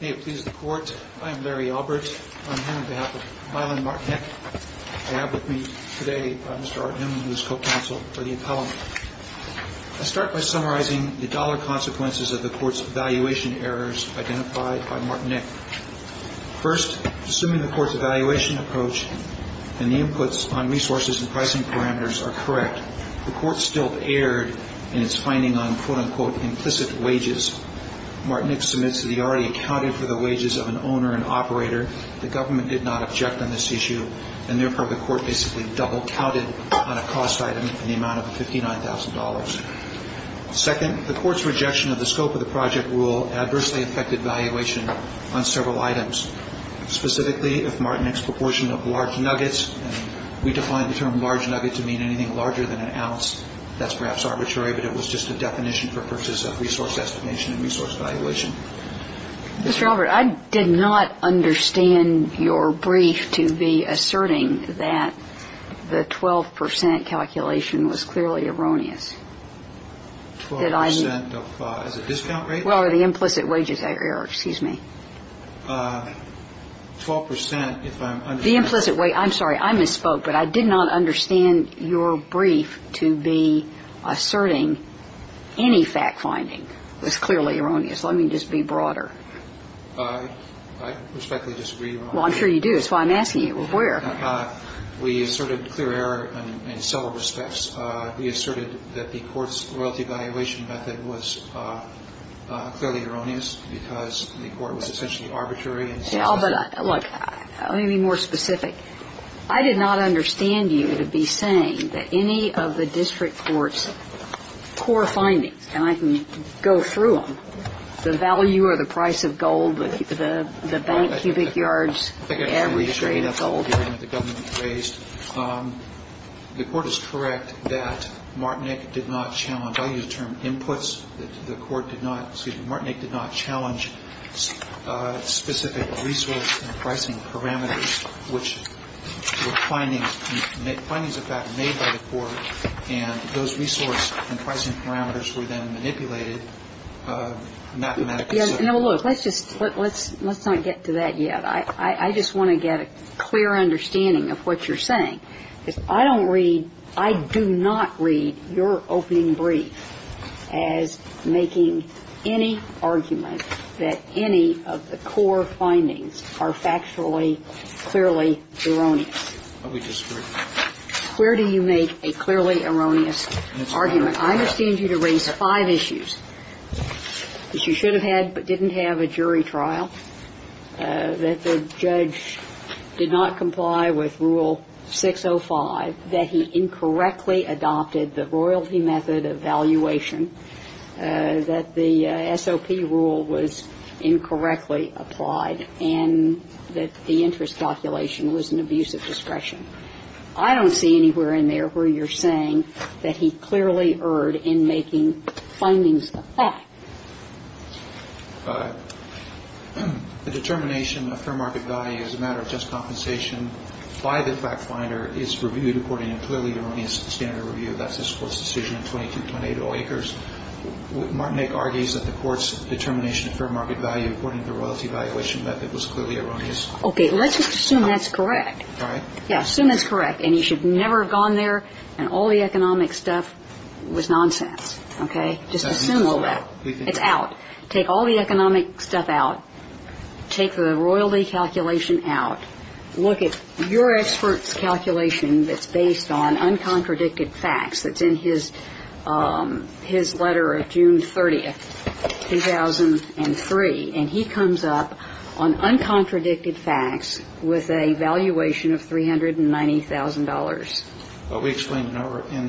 May it please the Court, I am Larry Albert. On behalf of Martin Nick, I have with me today Mr. Arden, who is co-counsel for the appellant. I start by summarizing the dollar consequences of the Court's evaluation errors identified by Martin Nick. First, assuming the Court's evaluation approach and the inputs on resources and pricing parameters are correct, the Court still erred in its finding on quote-unquote implicit wages. Martin Nick submits that he already accounted for the wages of an owner and operator. The Government did not object on this issue, and therefore the Court basically double-counted on a cost item in the amount of $59,000. Second, the Court's rejection of the scope of the project rule adversely affected valuation on several items. Specifically, if Martin Nick's proportion of large nuggets and we define the term large nugget to mean anything larger than an ounce, that's perhaps arbitrary, but it was just a definition for purposes of resource estimation and resource valuation. Mr. Albert, I did not understand your brief to be asserting that the 12 percent calculation was clearly erroneous. Twelve percent as a discount rate? Well, or the implicit wages error, excuse me. Twelve percent if I'm understanding. The implicit wage, I'm sorry, I misspoke, but I did not understand your brief to be asserting any fact-finding was clearly erroneous. Let me just be broader. I respectfully disagree, Your Honor. Well, I'm sure you do. That's why I'm asking you. Where? We asserted clear error in several respects. We asserted that the Court's royalty valuation method was clearly erroneous because the Court was essentially arbitrary and specific. Look, let me be more specific. I did not understand you to be saying that any of the district court's core findings, and I can go through them, the value or the price of gold, the bank cubic yards, the average rate of gold. The Court is correct that Martin Nick did not challenge, I'll use the term inputs, that the Court did not, excuse me, Martin Nick did not challenge specific resource and pricing parameters which were findings, findings of fact made by the Court, and those resource and pricing parameters were then manipulated mathematically. Now, look, let's just, let's not get to that yet. I just want to get a clear understanding of what you're saying. Because I don't read, I do not read your opening brief as making any argument that any of the core findings are factually, clearly erroneous. We disagree. Where do you make a clearly erroneous argument? I understand you to raise five issues that you should have had but didn't have a jury trial, that the judge did not comply with Rule 605, that he incorrectly adopted the royalty method of valuation, that the SOP rule was incorrectly applied, and that the interest calculation was an abuse of discretion. I don't see anywhere in there where you're saying that he clearly erred in making findings of fact. The determination of fair market value is a matter of just compensation by the fact finder is reviewed according to clearly erroneous standard review. That's this Court's decision in 2228 O. Akers. Martin Nick argues that the Court's determination of fair market value according to the royalty valuation method was clearly erroneous. Okay. Let's assume that's correct. All right. Yeah, assume that's correct. And he should never have gone there and all the economic stuff was nonsense. Okay. Just assume all that. It's out. Take all the economic stuff out. Take the royalty calculation out. Look at your expert's calculation that's based on uncontradicted facts. It's in his letter of June 30th, 2003. And he comes up on uncontradicted facts with a valuation of $390,000. But we explained in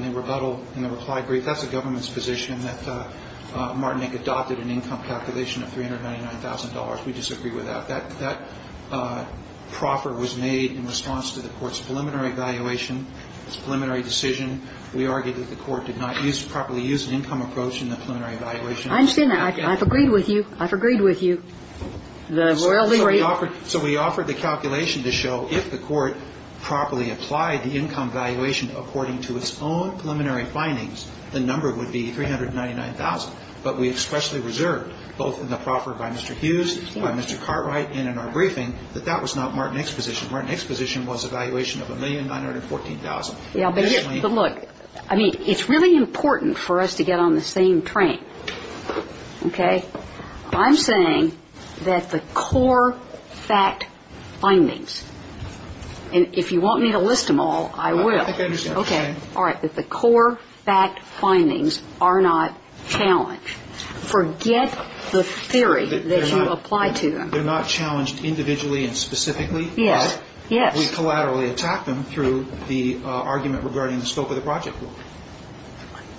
the rebuttal, in the reply brief, that that's the government's position, that Martin Nick adopted an income calculation of $399,000. We disagree with that. That proffer was made in response to the Court's preliminary evaluation, its preliminary decision. We argue that the Court did not properly use an income approach in the preliminary evaluation. I understand that. I've agreed with you. I've agreed with you. The royalty rate. So we offered the calculation to show if the Court properly applied the income evaluation according to its own preliminary findings, the number would be $399,000. But we expressly reserved, both in the proffer by Mr. Hughes, by Mr. Cartwright, and in our briefing, that that was not Martin Nick's position. Martin Nick's position was a valuation of $1,914,000. But look. I mean, it's really important for us to get on the same train. Okay? I'm saying that the core fact findings, and if you want me to list them all, I will. I think I understand what you're saying. Okay. All right. That the core fact findings are not challenged. Forget the theory that you apply to them. They're not challenged individually and specifically. Yes. Yes. We collaterally attack them through the argument regarding the scope of the project.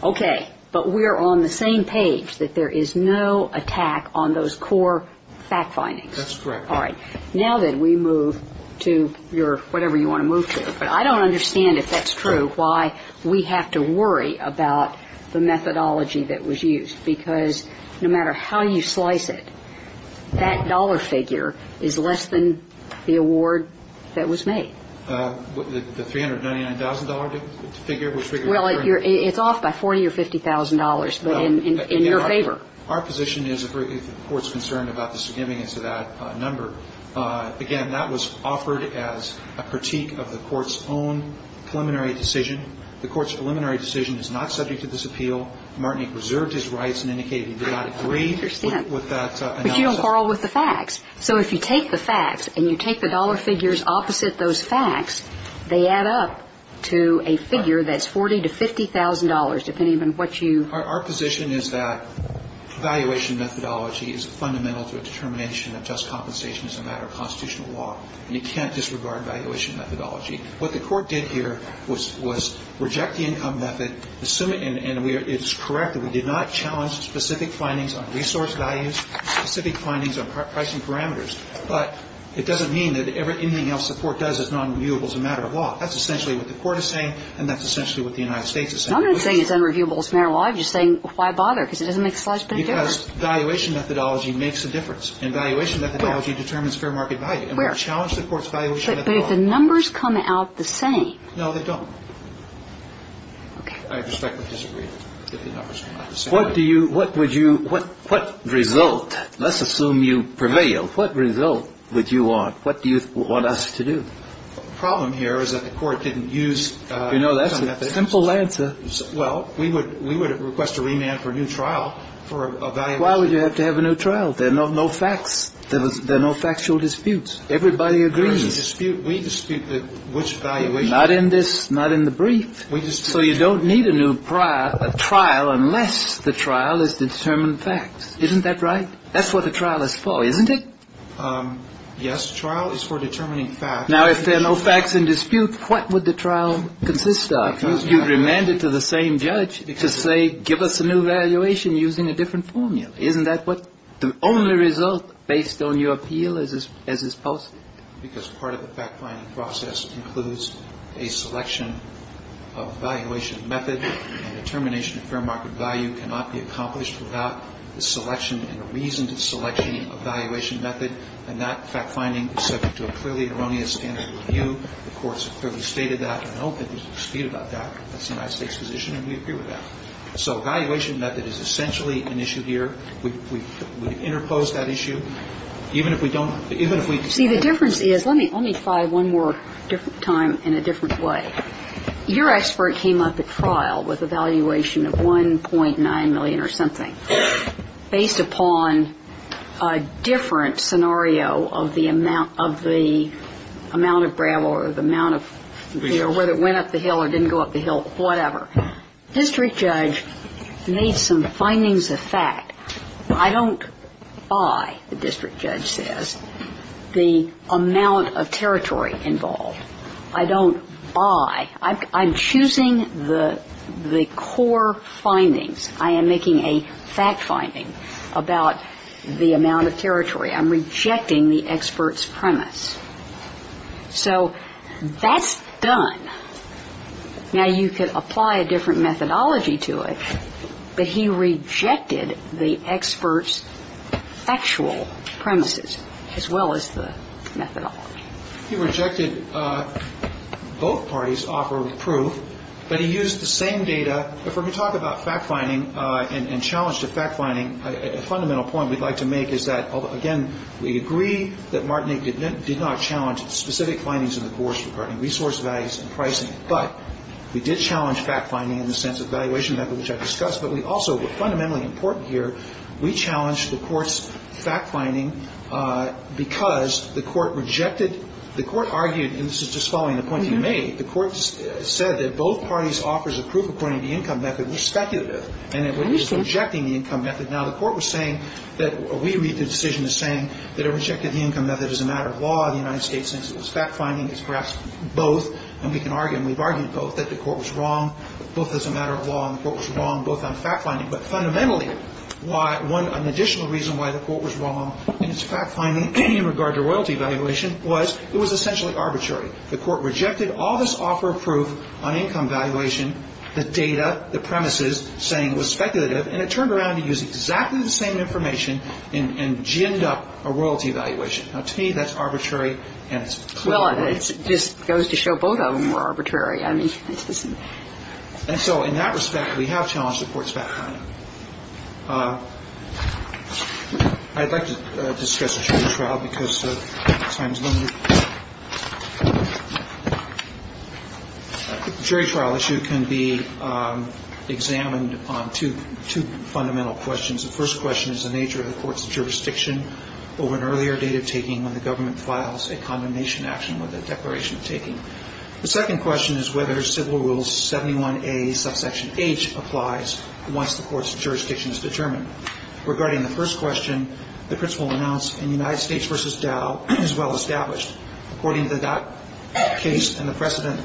Okay. But we are on the same page, that there is no attack on those core fact findings. That's correct. All right. Now that we move to your whatever you want to move to. But I don't understand, if that's true, why we have to worry about the methodology that was used. Because no matter how you slice it, that dollar figure is less than the award that was made. The $399,000 figure, which we can refer to. Well, it's off by $40,000 or $50,000, but in your favor. Our position is, if the Court's concerned about the significance of that number, again, that was offered as a critique of the Court's own preliminary decision. The Court's preliminary decision is not subject to this appeal. Martinique reserved his rights and indicated he did not agree with that. I don't understand. But you don't quarrel with the facts. So if you take the facts and you take the dollar figures opposite those facts, they add up to a figure that's $40,000 to $50,000, depending on what you. Our position is that valuation methodology is fundamental to a determination of just compensation as a matter of constitutional law, and you can't disregard valuation methodology. What the Court did here was reject the income method, and it's correct that we did not challenge specific findings on resource values, specific findings on pricing parameters, but it doesn't mean that anything else the Court does is nonreviewable as a matter of law. That's essentially what the Court is saying, and that's essentially what the United States is saying. And I'm not saying it's unreviewable as a matter of law. I'm just saying, why bother? Because it doesn't make a slightest bit of difference. Because valuation methodology makes a difference, and valuation methodology determines fair market value. Where? And we'll challenge the Court's valuation methodology. But if the numbers come out the same. No, they don't. Okay. I respectfully disagree that the numbers come out the same. What do you – what would you – what result – let's assume you prevail. What result would you want? What do you want us to do? The problem here is that the Court didn't use income methodology. You know, that's a simple answer. Well, we would request a remand for a new trial for a valuation. Why would you have to have a new trial? There are no facts. There are no factual disputes. Everybody agrees. There is a dispute. We dispute which valuation. Not in this. Not in the brief. So you don't need a new trial unless the trial is to determine facts. Isn't that right? That's what the trial is for, isn't it? Yes. The trial is for determining facts. Now, if there are no facts in dispute, what would the trial consist of? You'd remand it to the same judge to say, give us a new valuation using a different formula. Isn't that what – the only result based on your appeal as is posted? Because part of the fact-finding process includes a selection of valuation method, and determination of fair market value cannot be accomplished without the selection and reasoned selection of valuation method, and that fact-finding is subject to a clearly erroneous standard of review. The courts have clearly stated that. I don't think there's a dispute about that. That's the United States position, and we agree with that. So valuation method is essentially an issue here. We interpose that issue. Even if we don't – even if we decide to do it. See, the difference is – let me try one more time in a different way. Your expert came up at trial with a valuation of $1.9 million or something. Based upon a different scenario of the amount of gravel or the amount of – whether it went up the hill or didn't go up the hill, whatever. District judge made some findings of fact. I don't buy, the district judge says, the amount of territory involved. I don't buy. I'm choosing the core findings. I am making a fact-finding about the amount of territory. I'm rejecting the expert's premise. So that's done. Now, you could apply a different methodology to it, but he rejected the expert's factual premises as well as the methodology. He rejected both parties' offer of proof, but he used the same data. When we talk about fact-finding and challenge to fact-finding, a fundamental point we'd like to make is that, again, we agree that Martinique did not challenge specific findings in the course regarding resource values and pricing. But we did challenge fact-finding in the sense of valuation, which I discussed. But we also – fundamentally important here, we challenged the Court's fact-finding because the Court rejected – the Court argued, and this is just following the point you made, the Court said that both parties' offers of proof according to the income method were speculative. And it was rejecting the income method. Now, the Court was saying that – or we read the decision as saying that it rejected the income method as a matter of law. The United States says it was fact-finding. It's perhaps both, and we can argue, and we've argued both, that the Court was wrong, both as a matter of law and the Court was wrong both on fact-finding. But fundamentally, why – an additional reason why the Court was wrong in its fact-finding in regard to royalty valuation was it was essentially arbitrary. The Court rejected all this offer of proof on income valuation, the data, the premises, saying it was speculative, and it turned around and used exactly the same information and ginned up a royalty valuation. Now, to me, that's arbitrary, and it's – Well, it just goes to show both of them were arbitrary. I mean, this isn't – And so in that respect, we have challenged the Court's fact-finding. I'd like to discuss a jury trial because time is limited. A jury trial issue can be examined on two fundamental questions. The first question is the nature of the Court's jurisdiction over an earlier date of taking when the government files a condemnation action with a declaration of taking. The second question is whether Civil Rules 71A subsection H applies once the Court's jurisdiction is determined. Regarding the first question, the principle announced in United States v. Dow is well-established. According to that case and the precedent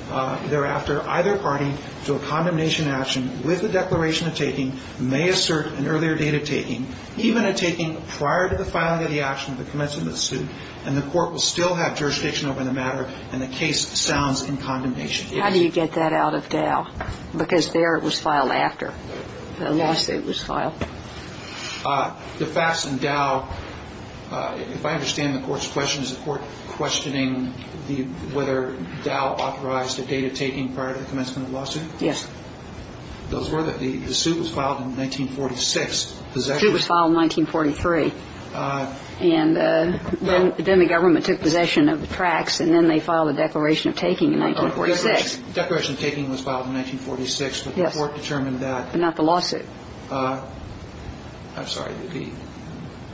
thereafter, either party to a condemnation action with a declaration of taking may assert an earlier date of taking, even a taking prior to the filing of the action of the commencement of the suit, and the Court will still have jurisdiction over the matter, and the case sounds in condemnation. How do you get that out of Dow? Because there it was filed after the lawsuit was filed. The facts in Dow – if I understand the Court's question, is the Court questioning whether Dow authorized a date of taking prior to the commencement of the lawsuit? Yes. Those were the – the suit was filed in 1946. The suit was filed in 1943. And then the government took possession of the tracts, and then they filed a declaration of taking in 1946. Declaration of taking was filed in 1946, but the Court determined that – But not the lawsuit. I'm sorry. The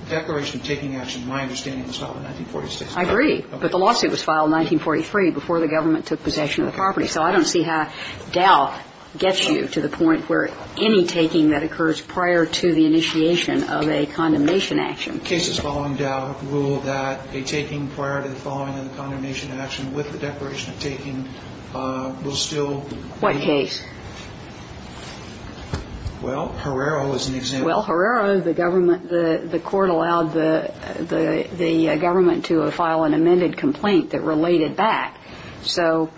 declaration of taking action, my understanding, was filed in 1946. I agree. But the lawsuit was filed in 1943 before the government took possession of the property. So I don't see how Dow gets you to the point where any taking that occurs prior to the initiation of a condemnation action. Cases following Dow rule that a taking prior to the following of the condemnation action with the declaration of taking will still be – What case? Well, Herrero is an example. Well, Herrero, the government – the Court allowed the government to file an amended complaint that related back. So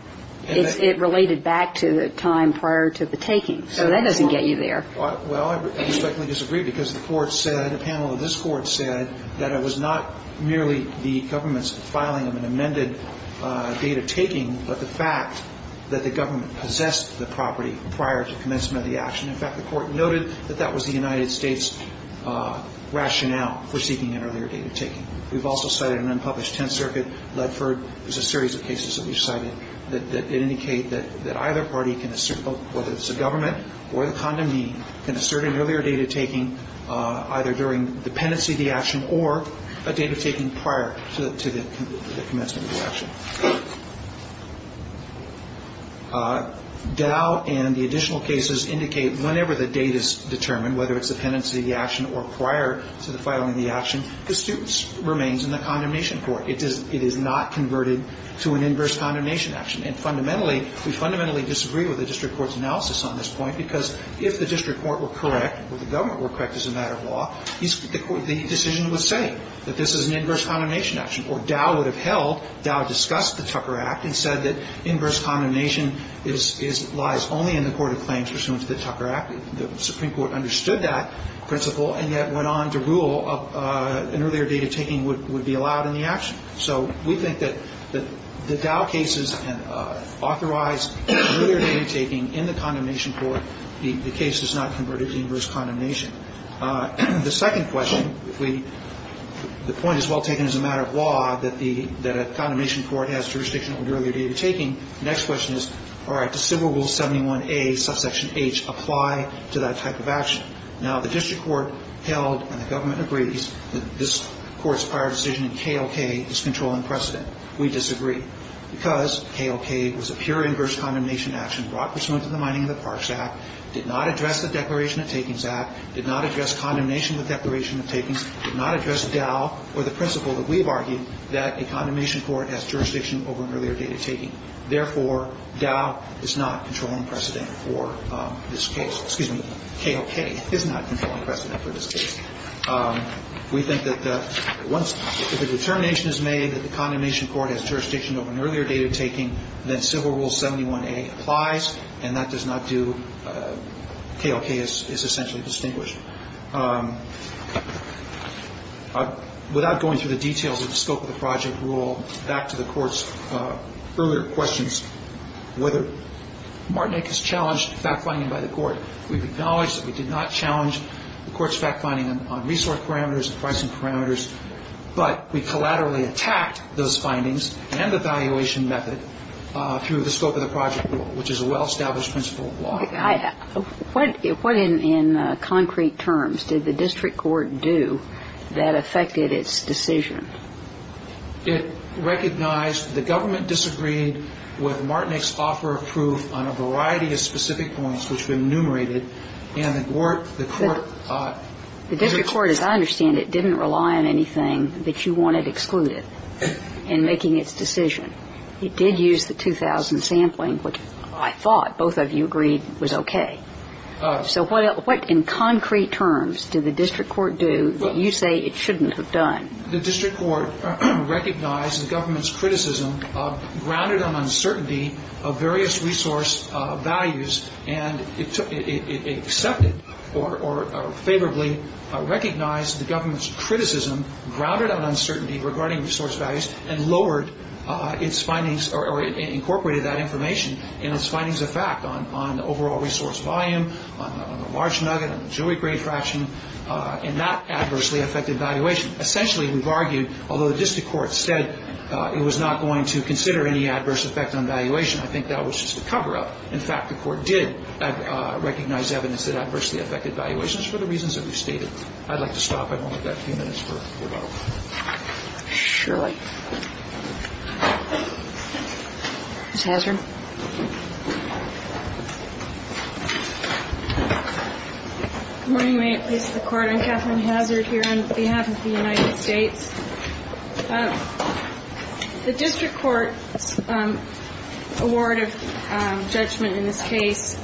it related back to the time prior to the taking. So that doesn't get you there. Well, I respectfully disagree, because the Court said – a panel of this Court said that it was not merely the government's filing of an amended date of taking, but the fact that the government possessed the property prior to commencement of the action. In fact, the Court noted that that was the United States rationale for seeking an earlier date of taking. We've also cited an unpublished Tenth Circuit, Ledford. There's a series of cases that we've cited that indicate that either party can assert whether it's the government or the condemned meeting, can assert an earlier date of taking either during the pendency of the action or a date of taking prior to the commencement of the action. Dow and the additional cases indicate whenever the date is determined, whether it's the pendency of the action or prior to the filing of the action, the student remains in the condemnation court. It is not converted to an inverse condemnation action. And fundamentally, we fundamentally disagree with the district court's analysis on this point, because if the district court were correct or the government were correct as a matter of law, the decision would say that this is an inverse condemnation action. Or Dow would have held – Dow discussed the Tucker Act and said that inverse condemnation lies only in the court of claims pursuant to the Tucker Act. The Supreme Court understood that principle and yet went on to rule an earlier date of taking would be allowed in the action. So we think that the Dow cases authorize earlier date of taking in the condemnation court. The case is not converted to inverse condemnation. The second question, the point is well taken as a matter of law that a condemnation court has jurisdiction over earlier date of taking. The next question is, all right, does Civil Rule 71A, subsection H, apply to that type of action? Now, the district court held and the government agrees that this court's prior decision in KOK is control and precedent. We disagree. Because KOK was a pure inverse condemnation action brought pursuant to the Mining and the Parks Act, did not address the Declaration of Takings Act, did not address condemnation with Declaration of Takings, did not address Dow or the principle that we've argued that a condemnation court has jurisdiction over an earlier date of taking. Therefore, Dow is not control and precedent for this case. Excuse me. KOK is not control and precedent for this case. We think that once the determination is made that the condemnation court has jurisdiction over an earlier date of taking, then Civil Rule 71A applies, and that does not do KOK is essentially distinguished. Without going through the details of the scope of the project, we'll go back to the Court's earlier questions, whether Martinique has challenged fact-finding by the Court. We've acknowledged that we did not challenge the Court's fact-finding on resource parameters and pricing parameters. But we collaterally attacked those findings and the valuation method through the scope of the project rule, which is a well-established principle of law. What in concrete terms did the district court do that affected its decision? It recognized the government disagreed with Martinique's offer of proof on a variety of specific points, which were enumerated, and the Court ---- The district court, as I understand it, didn't rely on anything that you wanted excluded in making its decision. It did use the 2000 sampling, which I thought both of you agreed was okay. So what in concrete terms did the district court do that you say it shouldn't have done? The district court recognized the government's criticism grounded on uncertainty of various resource values, and it accepted or favorably recognized the government's criticism grounded on uncertainty regarding resource values and lowered its findings or incorporated that information in its findings of fact on the overall resource volume, on the large nugget, on the jury grade fraction, and that adversely affected valuation. Essentially, we've argued, although the district court said it was not going to I think that was just a cover-up. In fact, the Court did recognize evidence that adversely affected valuations for the reasons that we've stated. I'd like to stop. I've only got a few minutes for rebuttal. Surely. Ms. Hazard? Good morning, Mayor. It's the Court. I'm Katherine Hazard here on behalf of the United States. The district court's award of judgment in this case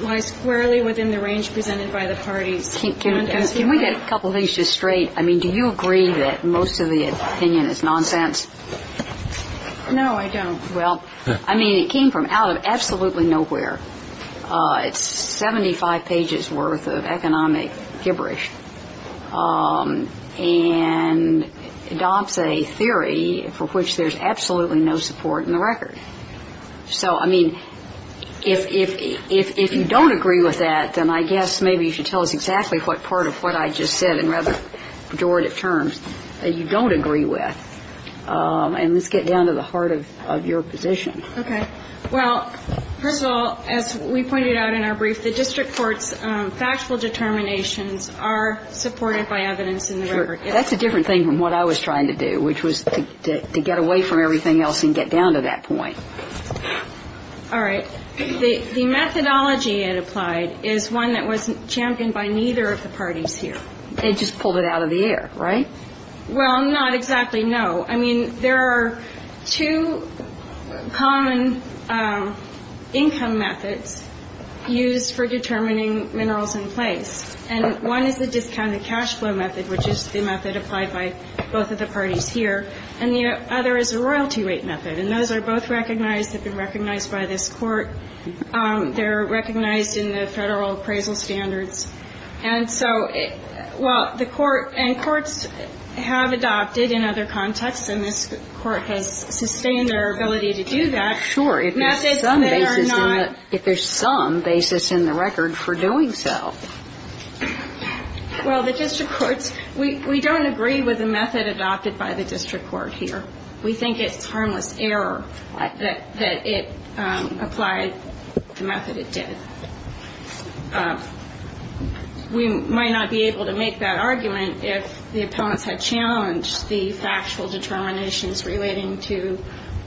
lies squarely within the range presented by the parties. Can we get a couple things just straight? I mean, do you agree that most of the opinion is nonsense? No, I don't. Well, I mean, it came from out of absolutely nowhere. It's 75 pages worth of economic gibberish. And adopts a theory for which there's absolutely no support in the record. So, I mean, if you don't agree with that, then I guess maybe you should tell us exactly what part of what I just said in rather pejorative terms that you don't agree with. And let's get down to the heart of your position. Okay. Well, first of all, as we pointed out in our brief, the district court's factual determinations are supported by evidence in the record. That's a different thing from what I was trying to do, which was to get away from everything else and get down to that point. All right. The methodology it applied is one that was championed by neither of the parties here. It just pulled it out of the air, right? Well, not exactly, no. I mean, there are two common income methods used for determining minerals in place. And one is the discounted cash flow method, which is the method applied by both of the parties here. And the other is the royalty rate method. And those are both recognized, have been recognized by this Court. They're recognized in the Federal appraisal standards. And so while the Court and courts have adopted in other contexts, and this Court has sustained their ability to do that. Sure. If there's some basis in the record for doing so. Well, the district courts, we don't agree with the method adopted by the district court here. We think it's harmless error that it applied the method it did. We might not be able to make that argument if the opponents had challenged the factual determinations relating to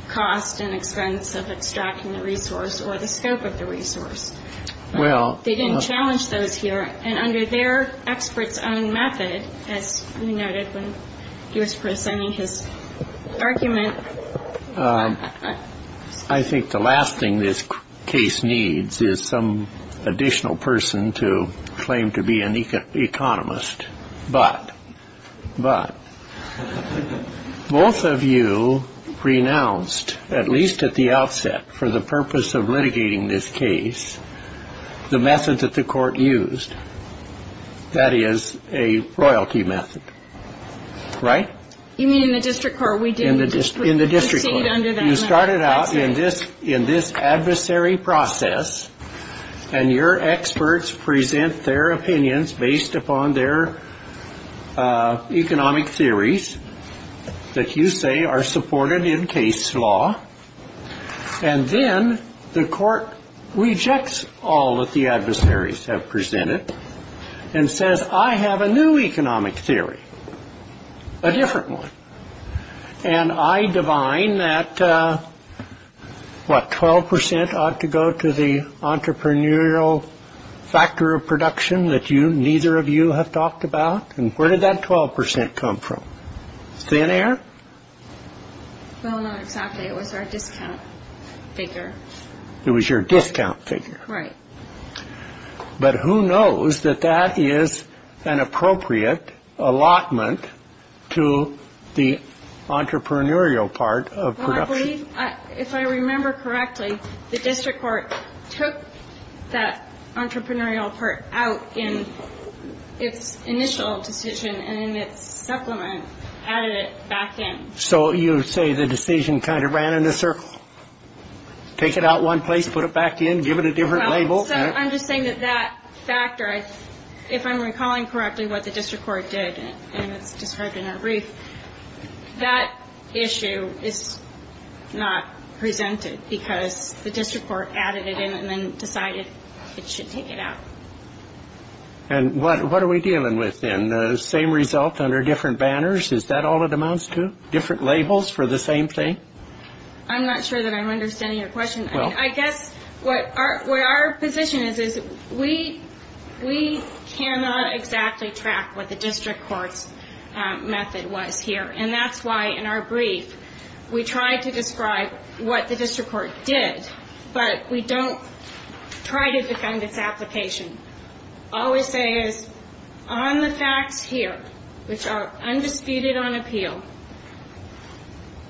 cost and expense of extracting the resource or the scope of the resource. Well. They didn't challenge those here. And under their expert's own method, as we noted when he was presenting his argument. I think the last thing this case needs is some additional person to claim to be an economist. But. But. Both of you pronounced, at least at the outset, for the purpose of litigating this case, the method that the Court used. That is a royalty method. Right? You mean in the district court? In the district court. You started out in this adversary process. And your experts present their opinions based upon their economic theories that you say are supported in case law. And then the court rejects all that the adversaries have presented and says, I have a new economic theory. A different one. And I divine that, what, 12 percent ought to go to the entrepreneurial factor of production that you, neither of you have talked about. And where did that 12 percent come from? Thin air? Well, not exactly. It was our discount figure. It was your discount figure. Right. But who knows that that is an appropriate allotment to the entrepreneurial part of. If I remember correctly, the district court took that entrepreneurial part out in its initial decision and its supplement added it back in. So you say the decision kind of ran in a circle. Take it out one place, put it back in, give it a different label. I'm just saying that that factor, if I'm recalling correctly what the district court did, and it's described in our brief, that issue is not presented because the district court added it in and then decided it should take it out. And what are we dealing with then? Same result under different banners? Is that all it amounts to? Different labels for the same thing? I'm not sure that I'm understanding your question. I guess where our position is is we cannot exactly track what the district court's method was here, and that's why in our brief we try to describe what the district court did, but we don't try to defend its application. All we say is on the facts here, which are undisputed on appeal,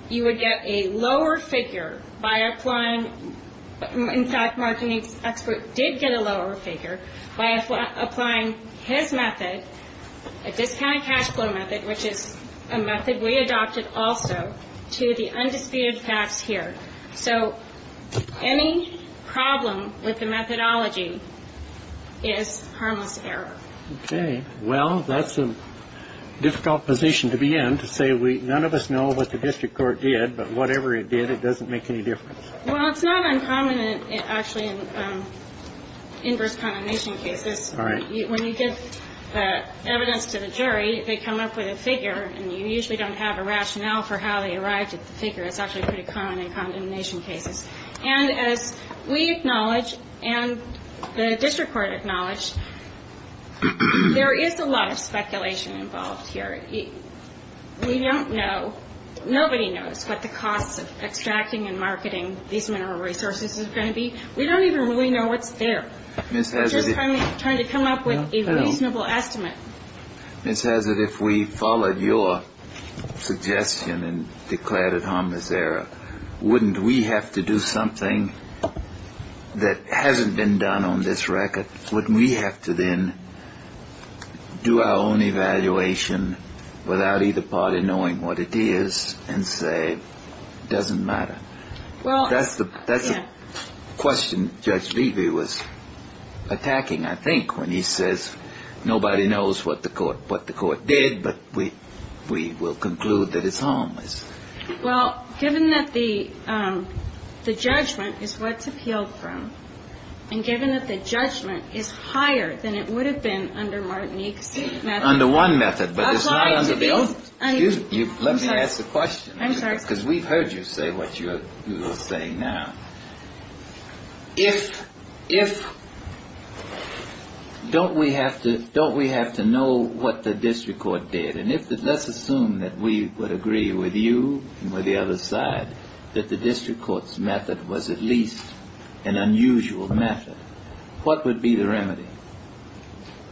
you would get a lower figure by applying – in fact, Martin's expert did get a lower figure by applying his method, a discounted cash flow method, which is a method we adopted also, to the undisputed facts here. So any problem with the methodology is harmless error. Okay. Well, that's a difficult position to be in, to say none of us know what the district court did, but whatever it did, it doesn't make any difference. Well, it's not uncommon, actually, in inverse condemnation cases. When you give evidence to the jury, they come up with a figure, and you usually don't have a rationale for how they arrived at the figure. It's actually pretty common in condemnation cases. And as we acknowledge and the district court acknowledge, there is a lot of speculation involved here. We don't know – nobody knows what the cost of extracting and marketing these mineral resources is going to be. We don't even really know what's there. We're just trying to come up with a reasonable estimate. Ms. Hazard, if we followed your suggestion and declared it harmless error, wouldn't we have to do something that hasn't been done on this record? Wouldn't we have to then do our own evaluation without either party knowing what it is and say it doesn't matter? That's the question Judge Levy was attacking, I think, when he says nobody knows what the court did, but we will conclude that it's harmless. Well, given that the judgment is what's appealed from, and given that the judgment is higher than it would have been under Martinique's method. Under one method, but it's not under both. Let me ask the question. I'm sorry. Because we've heard you say what you're saying now. If – don't we have to know what the district court did? And let's assume that we would agree with you and with the other side that the district court's method was at least an unusual method. What would be the remedy?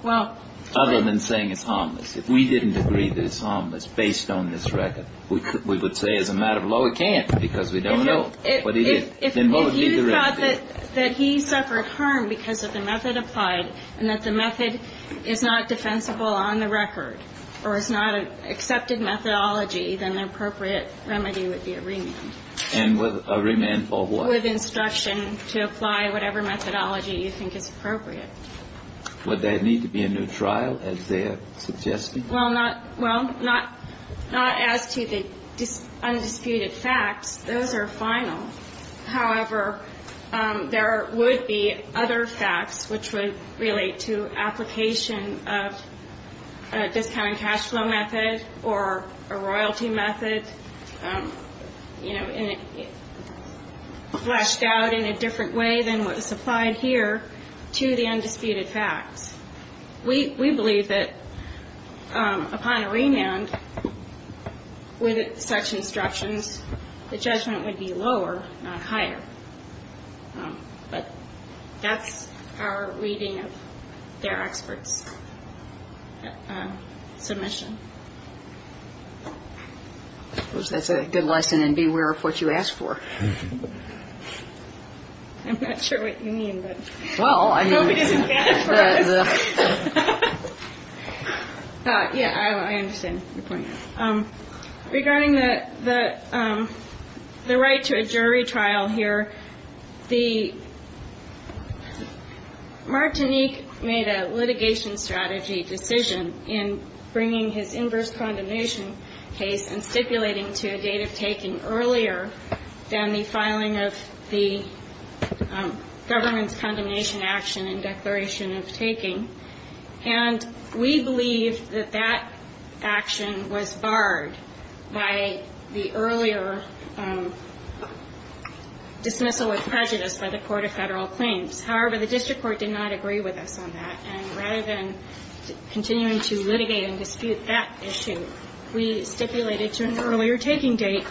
Other than saying it's harmless. If we didn't agree that it's harmless based on this record, we would say as a matter of law it can't because we don't know what it is. Then what would be the remedy? If you thought that he suffered harm because of the method applied and that the method is not defensible on the record or is not an accepted methodology, then the appropriate remedy would be a remand. And a remand for what? With instruction to apply whatever methodology you think is appropriate. Would there need to be a new trial, as they are suggesting? Well, not – well, not as to the undisputed facts. Those are final. However, there would be other facts which would relate to application of a discounted cash flow method or a royalty method, you know, fleshed out in a different way than what was applied here to the undisputed facts. We believe that upon a remand with such instructions, the judgment would be lower, not higher. But that's our reading of their expert's submission. That's a good lesson in beware of what you ask for. I'm not sure what you mean, but nobody doesn't get it for us. Yeah, I understand your point. Regarding the right to a jury trial here, Martinique made a litigation strategy decision in bringing his inverse condemnation case and stipulating to a date of taking earlier than the filing of the government's condemnation action and declaration of taking. And we believe that that action was barred by the earlier dismissal of prejudice by the Court of Federal Claims. However, the district court did not agree with us on that. And rather than continuing to litigate and dispute that issue, we stipulated to an earlier taking date.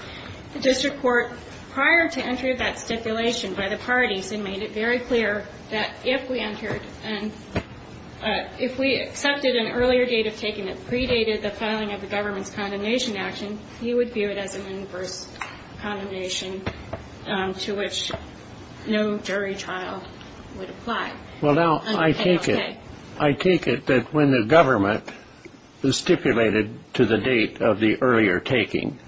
The district court, prior to entering that stipulation by the parties, they made it very clear that if we entered and if we accepted an earlier date of taking that predated the filing of the government's condemnation action, you would view it as an inverse condemnation to which no jury trial would apply. Well, now, I take it that when the government stipulated to the date of the earlier taking,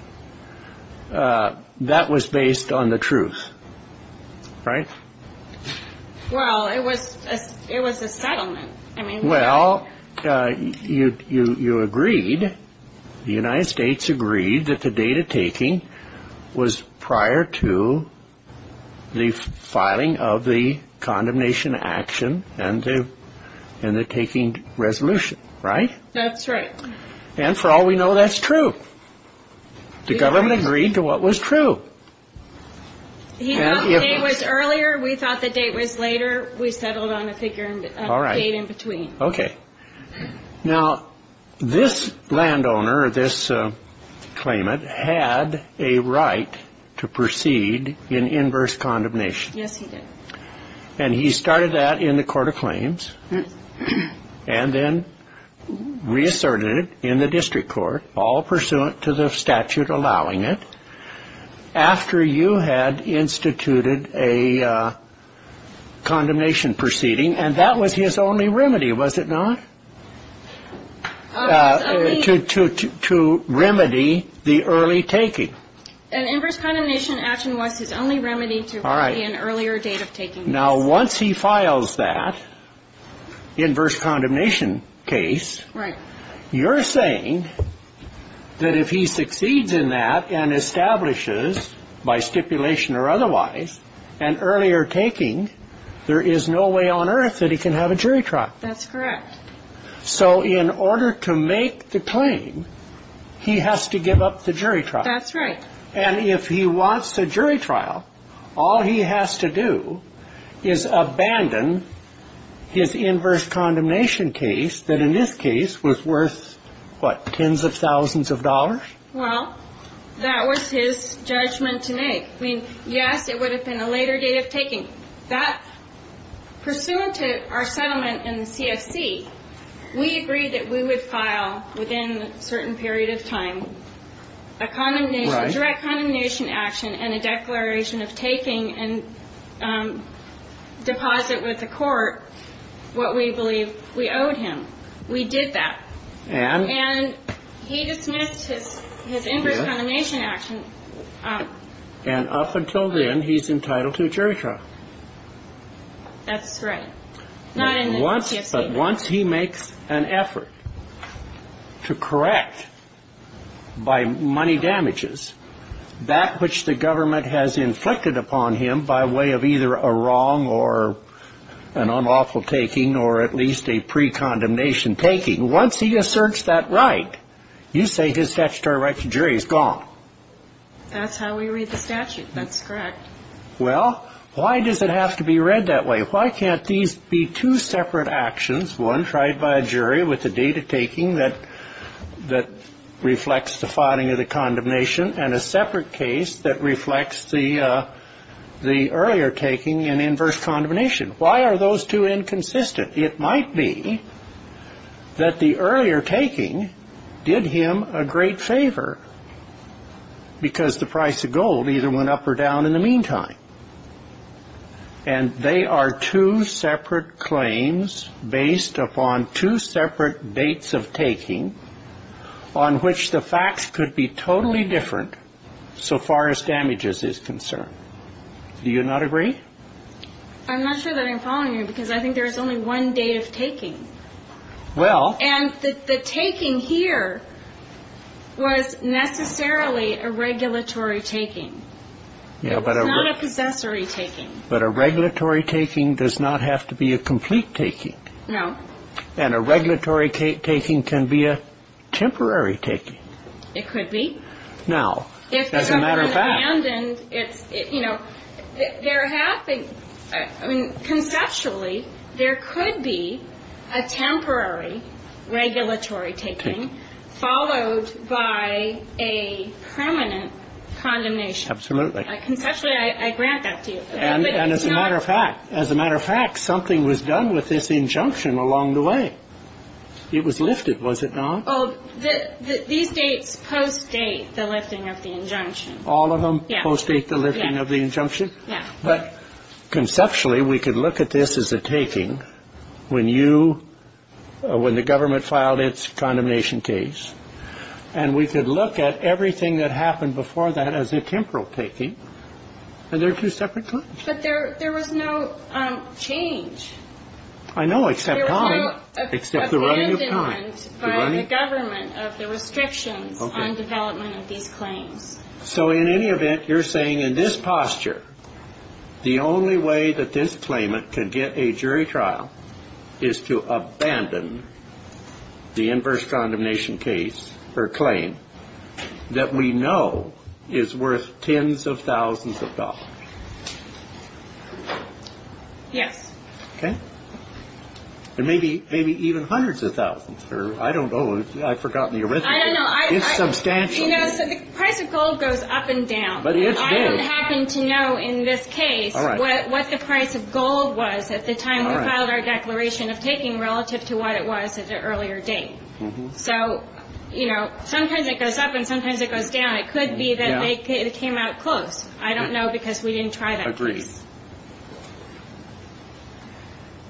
that was based on the truth, right? Well, it was a settlement. Well, you agreed, the United States agreed that the date of taking was prior to the filing of the condemnation action and the taking resolution, right? That's right. And for all we know, that's true. The government agreed to what was true. He thought the date was earlier. We thought the date was later. We settled on a date in between. All right. Okay. Now, this landowner, this claimant, had a right to proceed in inverse condemnation. Yes, he did. And he started that in the Court of Claims and then reasserted it in the district court, all pursuant to the statute allowing it, after you had instituted a condemnation proceeding, and that was his only remedy, was it not, to remedy the early taking? An inverse condemnation action was his only remedy to remedy an earlier date of taking. Now, once he files that inverse condemnation case, you're saying that if he succeeds in that and establishes, by stipulation or otherwise, an earlier taking, there is no way on earth that he can have a jury trial. That's correct. So in order to make the claim, he has to give up the jury trial. That's right. And if he wants a jury trial, all he has to do is abandon his inverse condemnation case that in this case was worth, what, tens of thousands of dollars? Well, that was his judgment to make. I mean, yes, it would have been a later date of taking. That, pursuant to our settlement in the CFC, we agreed that we would file within a certain period of time a direct condemnation action and a declaration of taking and deposit with the court what we believe we owed him. We did that. And? And he dismissed his inverse condemnation action. And up until then, he's entitled to a jury trial. That's right. But once he makes an effort to correct, by money damages, that which the government has inflicted upon him by way of either a wrong or an unlawful taking or at least a pre-condemnation taking, once he asserts that right, you say his statutory right to jury is gone. That's how we read the statute. That's correct. Well, why does it have to be read that way? Why can't these be two separate actions, one tried by a jury with a date of taking that reflects the filing of the condemnation and a separate case that reflects the earlier taking and inverse condemnation? Why are those two inconsistent? It might be that the earlier taking did him a great favor because the price of gold either went up or down in the meantime. And they are two separate claims based upon two separate dates of taking on which the facts could be totally different so far as damages is concerned. Do you not agree? I'm not sure that I'm following you because I think there is only one date of taking. Well. And the taking here was necessarily a regulatory taking. It was not a possessory taking. But a regulatory taking does not have to be a complete taking. No. And a regulatory taking can be a temporary taking. It could be. Now, it doesn't matter back. If it's abandoned, it's, you know, there have been, I mean, conceptually there could be a temporary regulatory taking followed by a permanent condemnation. Absolutely. Conceptually I grant that to you. And as a matter of fact, as a matter of fact, something was done with this injunction along the way. It was lifted, was it not? Oh, these dates post-date the lifting of the injunction. All of them post-date the lifting of the injunction? Yeah. But conceptually we could look at this as a taking. When you, when the government filed its condemnation case. And we could look at everything that happened before that as a temporal taking. And they're two separate claims. But there was no change. I know, except on. There was no abandonment by the government of the restrictions on development of these claims. So in any event, you're saying in this posture, the only way that this claimant can get a jury trial is to abandon the inverse condemnation case or claim that we know is worth tens of thousands of dollars. Yes. Okay. And maybe even hundreds of thousands. I don't know. I've forgotten the arithmetic. I don't know. It's substantial. You know, the price of gold goes up and down. But it's big. I don't happen to know in this case what the price of gold was at the time we filed our declaration of taking relative to what it was at the earlier date. So, you know, sometimes it goes up and sometimes it goes down. It could be that it came out close. I don't know because we didn't try that case. Agreed.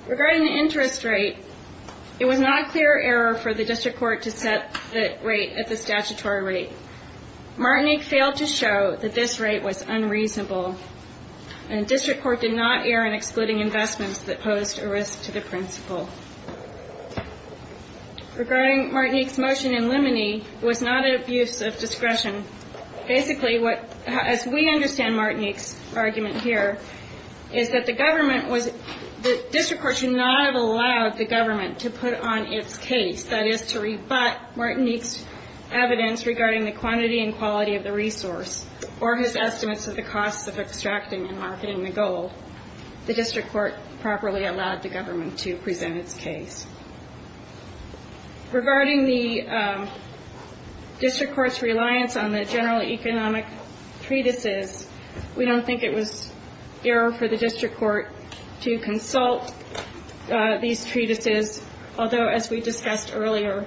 Regarding the interest rate, it was not a clear error for the district court to set the rate at the statutory rate. Martinique failed to show that this rate was unreasonable, and the district court did not err in excluding investments that posed a risk to the principal. Regarding Martinique's motion in Limoney, it was not an abuse of discretion. Basically, as we understand Martinique's argument here, is that the district court should not have allowed the government to put on its case, that is, to rebut Martinique's evidence regarding the quantity and quality of the resource or his estimates of the costs of extracting and marketing the gold. The district court properly allowed the government to present its case. Regarding the district court's reliance on the general economic treatises, we don't think it was error for the district court to consult these treatises, although, as we discussed earlier,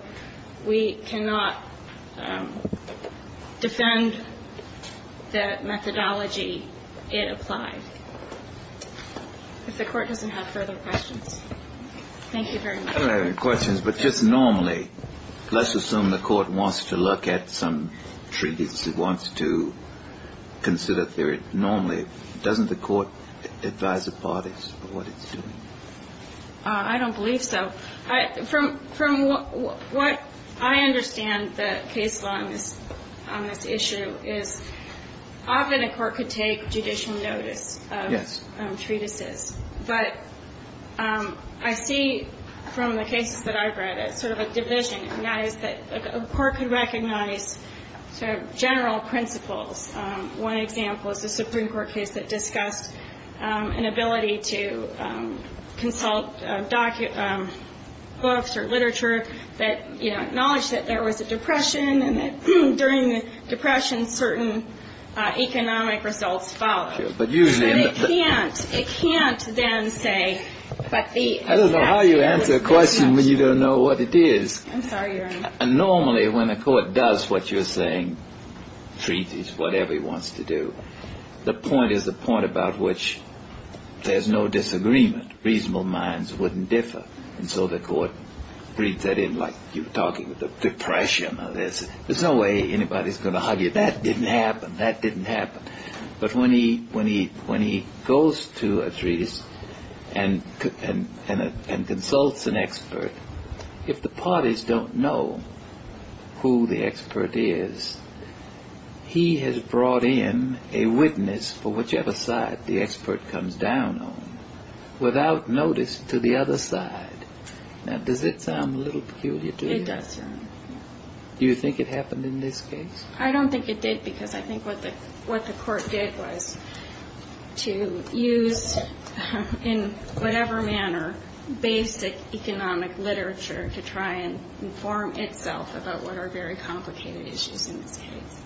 we cannot defend the methodology it applied. If the court doesn't have further questions. Thank you very much. I don't have any questions, but just normally, let's assume the court wants to look at some treatises, wants to consider theory, normally, doesn't the court advise the parties of what it's doing? I don't believe so. From what I understand the case law on this issue is, often a court could take judicial notice of treatises, but I see from the cases that I've read it's sort of a division, and that is that a court could recognize sort of general principles. One example is the Supreme Court case that discussed an ability to consult books or literature that acknowledged that there was a depression and that during the depression certain economic results followed. But it can't then say. I don't know how you answer a question when you don't know what it is. I'm sorry, Your Honor. Normally, when a court does what you're saying, treaties, whatever he wants to do, the point is the point about which there's no disagreement. Reasonable minds wouldn't differ. And so the court reads that in like you're talking about depression. There's no way anybody's going to argue that didn't happen, that didn't happen. But when he goes to a treatise and consults an expert, if the parties don't know who the expert is, he has brought in a witness for whichever side the expert comes down on without notice to the other side. Now, does it sound a little peculiar to you? It does, Your Honor. Do you think it happened in this case? I don't think it did because I think what the court did was to use in whatever manner basic economic literature to try and inform itself about what are very complicated issues in this case.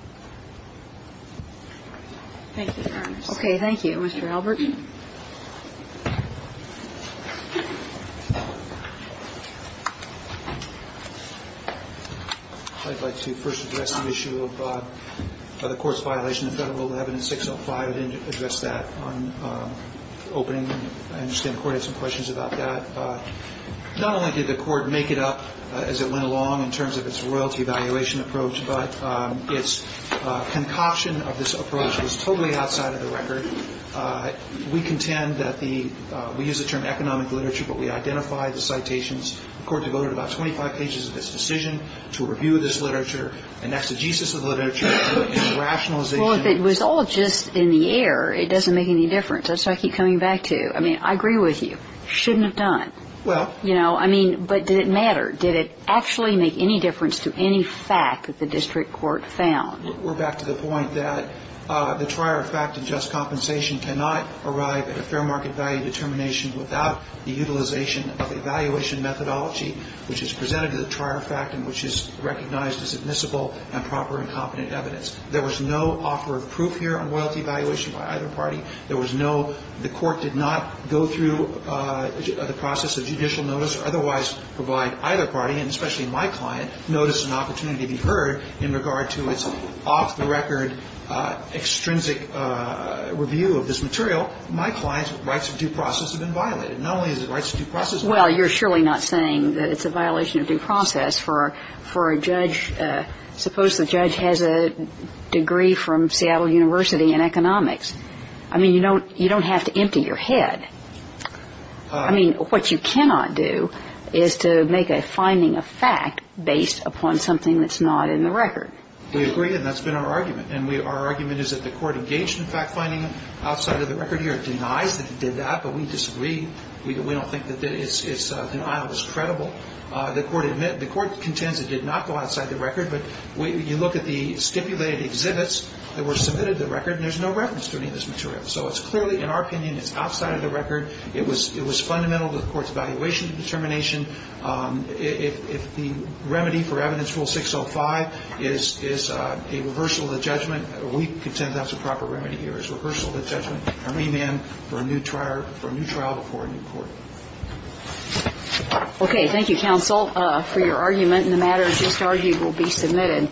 Thank you, Your Honor. Okay. Mr. Albert. I'd like to first address the issue of the court's violation of Federal 11-605. I didn't address that on opening. I understand the court had some questions about that. Not only did the court make it up as it went along in terms of its royalty valuation approach, but its concoction of this approach was totally outside of the We use the term economic literature, but we identify the citations. The court devoted about 25 pages of this decision to a review of this literature, an exegesis of the literature, to a rationalization. Well, if it was all just in the air, it doesn't make any difference. That's what I keep coming back to. I mean, I agree with you. It shouldn't have done. Well. You know, I mean, but did it matter? Did it actually make any difference to any fact that the district court found? We're back to the point that the trier of fact and just compensation cannot arrive at a fair market value determination without the utilization of evaluation methodology, which is presented to the trier of fact and which is recognized as admissible and proper and competent evidence. There was no offer of proof here on royalty valuation by either party. There was no the court did not go through the process of judicial notice or otherwise provide either party, and especially my client, noticed an opportunity to be heard in regard to its off-the-record, extrinsic review of this material. My client's rights of due process have been violated. Not only is it rights of due process. Well, you're surely not saying that it's a violation of due process for a judge. Suppose the judge has a degree from Seattle University in economics. I mean, you don't have to empty your head. I mean, what you cannot do is to make a finding of fact based upon something that's not in the record. We agree, and that's been our argument. And our argument is that the court engaged in fact-finding outside of the record here, denies that it did that, but we disagree. We don't think that denial is credible. The court contends it did not go outside the record, but you look at the stipulated exhibits that were submitted to the record, and there's no reference to any of this So it's clearly, in our opinion, it's outside of the record. It was fundamental to the court's evaluation and determination. If the remedy for Evidence Rule 605 is a reversal of the judgment, we contend that's a proper remedy here, is reversal of the judgment, or remand for a new trial before a new court. Okay. Thank you, counsel, for your argument. And the matters just argued will be submitted.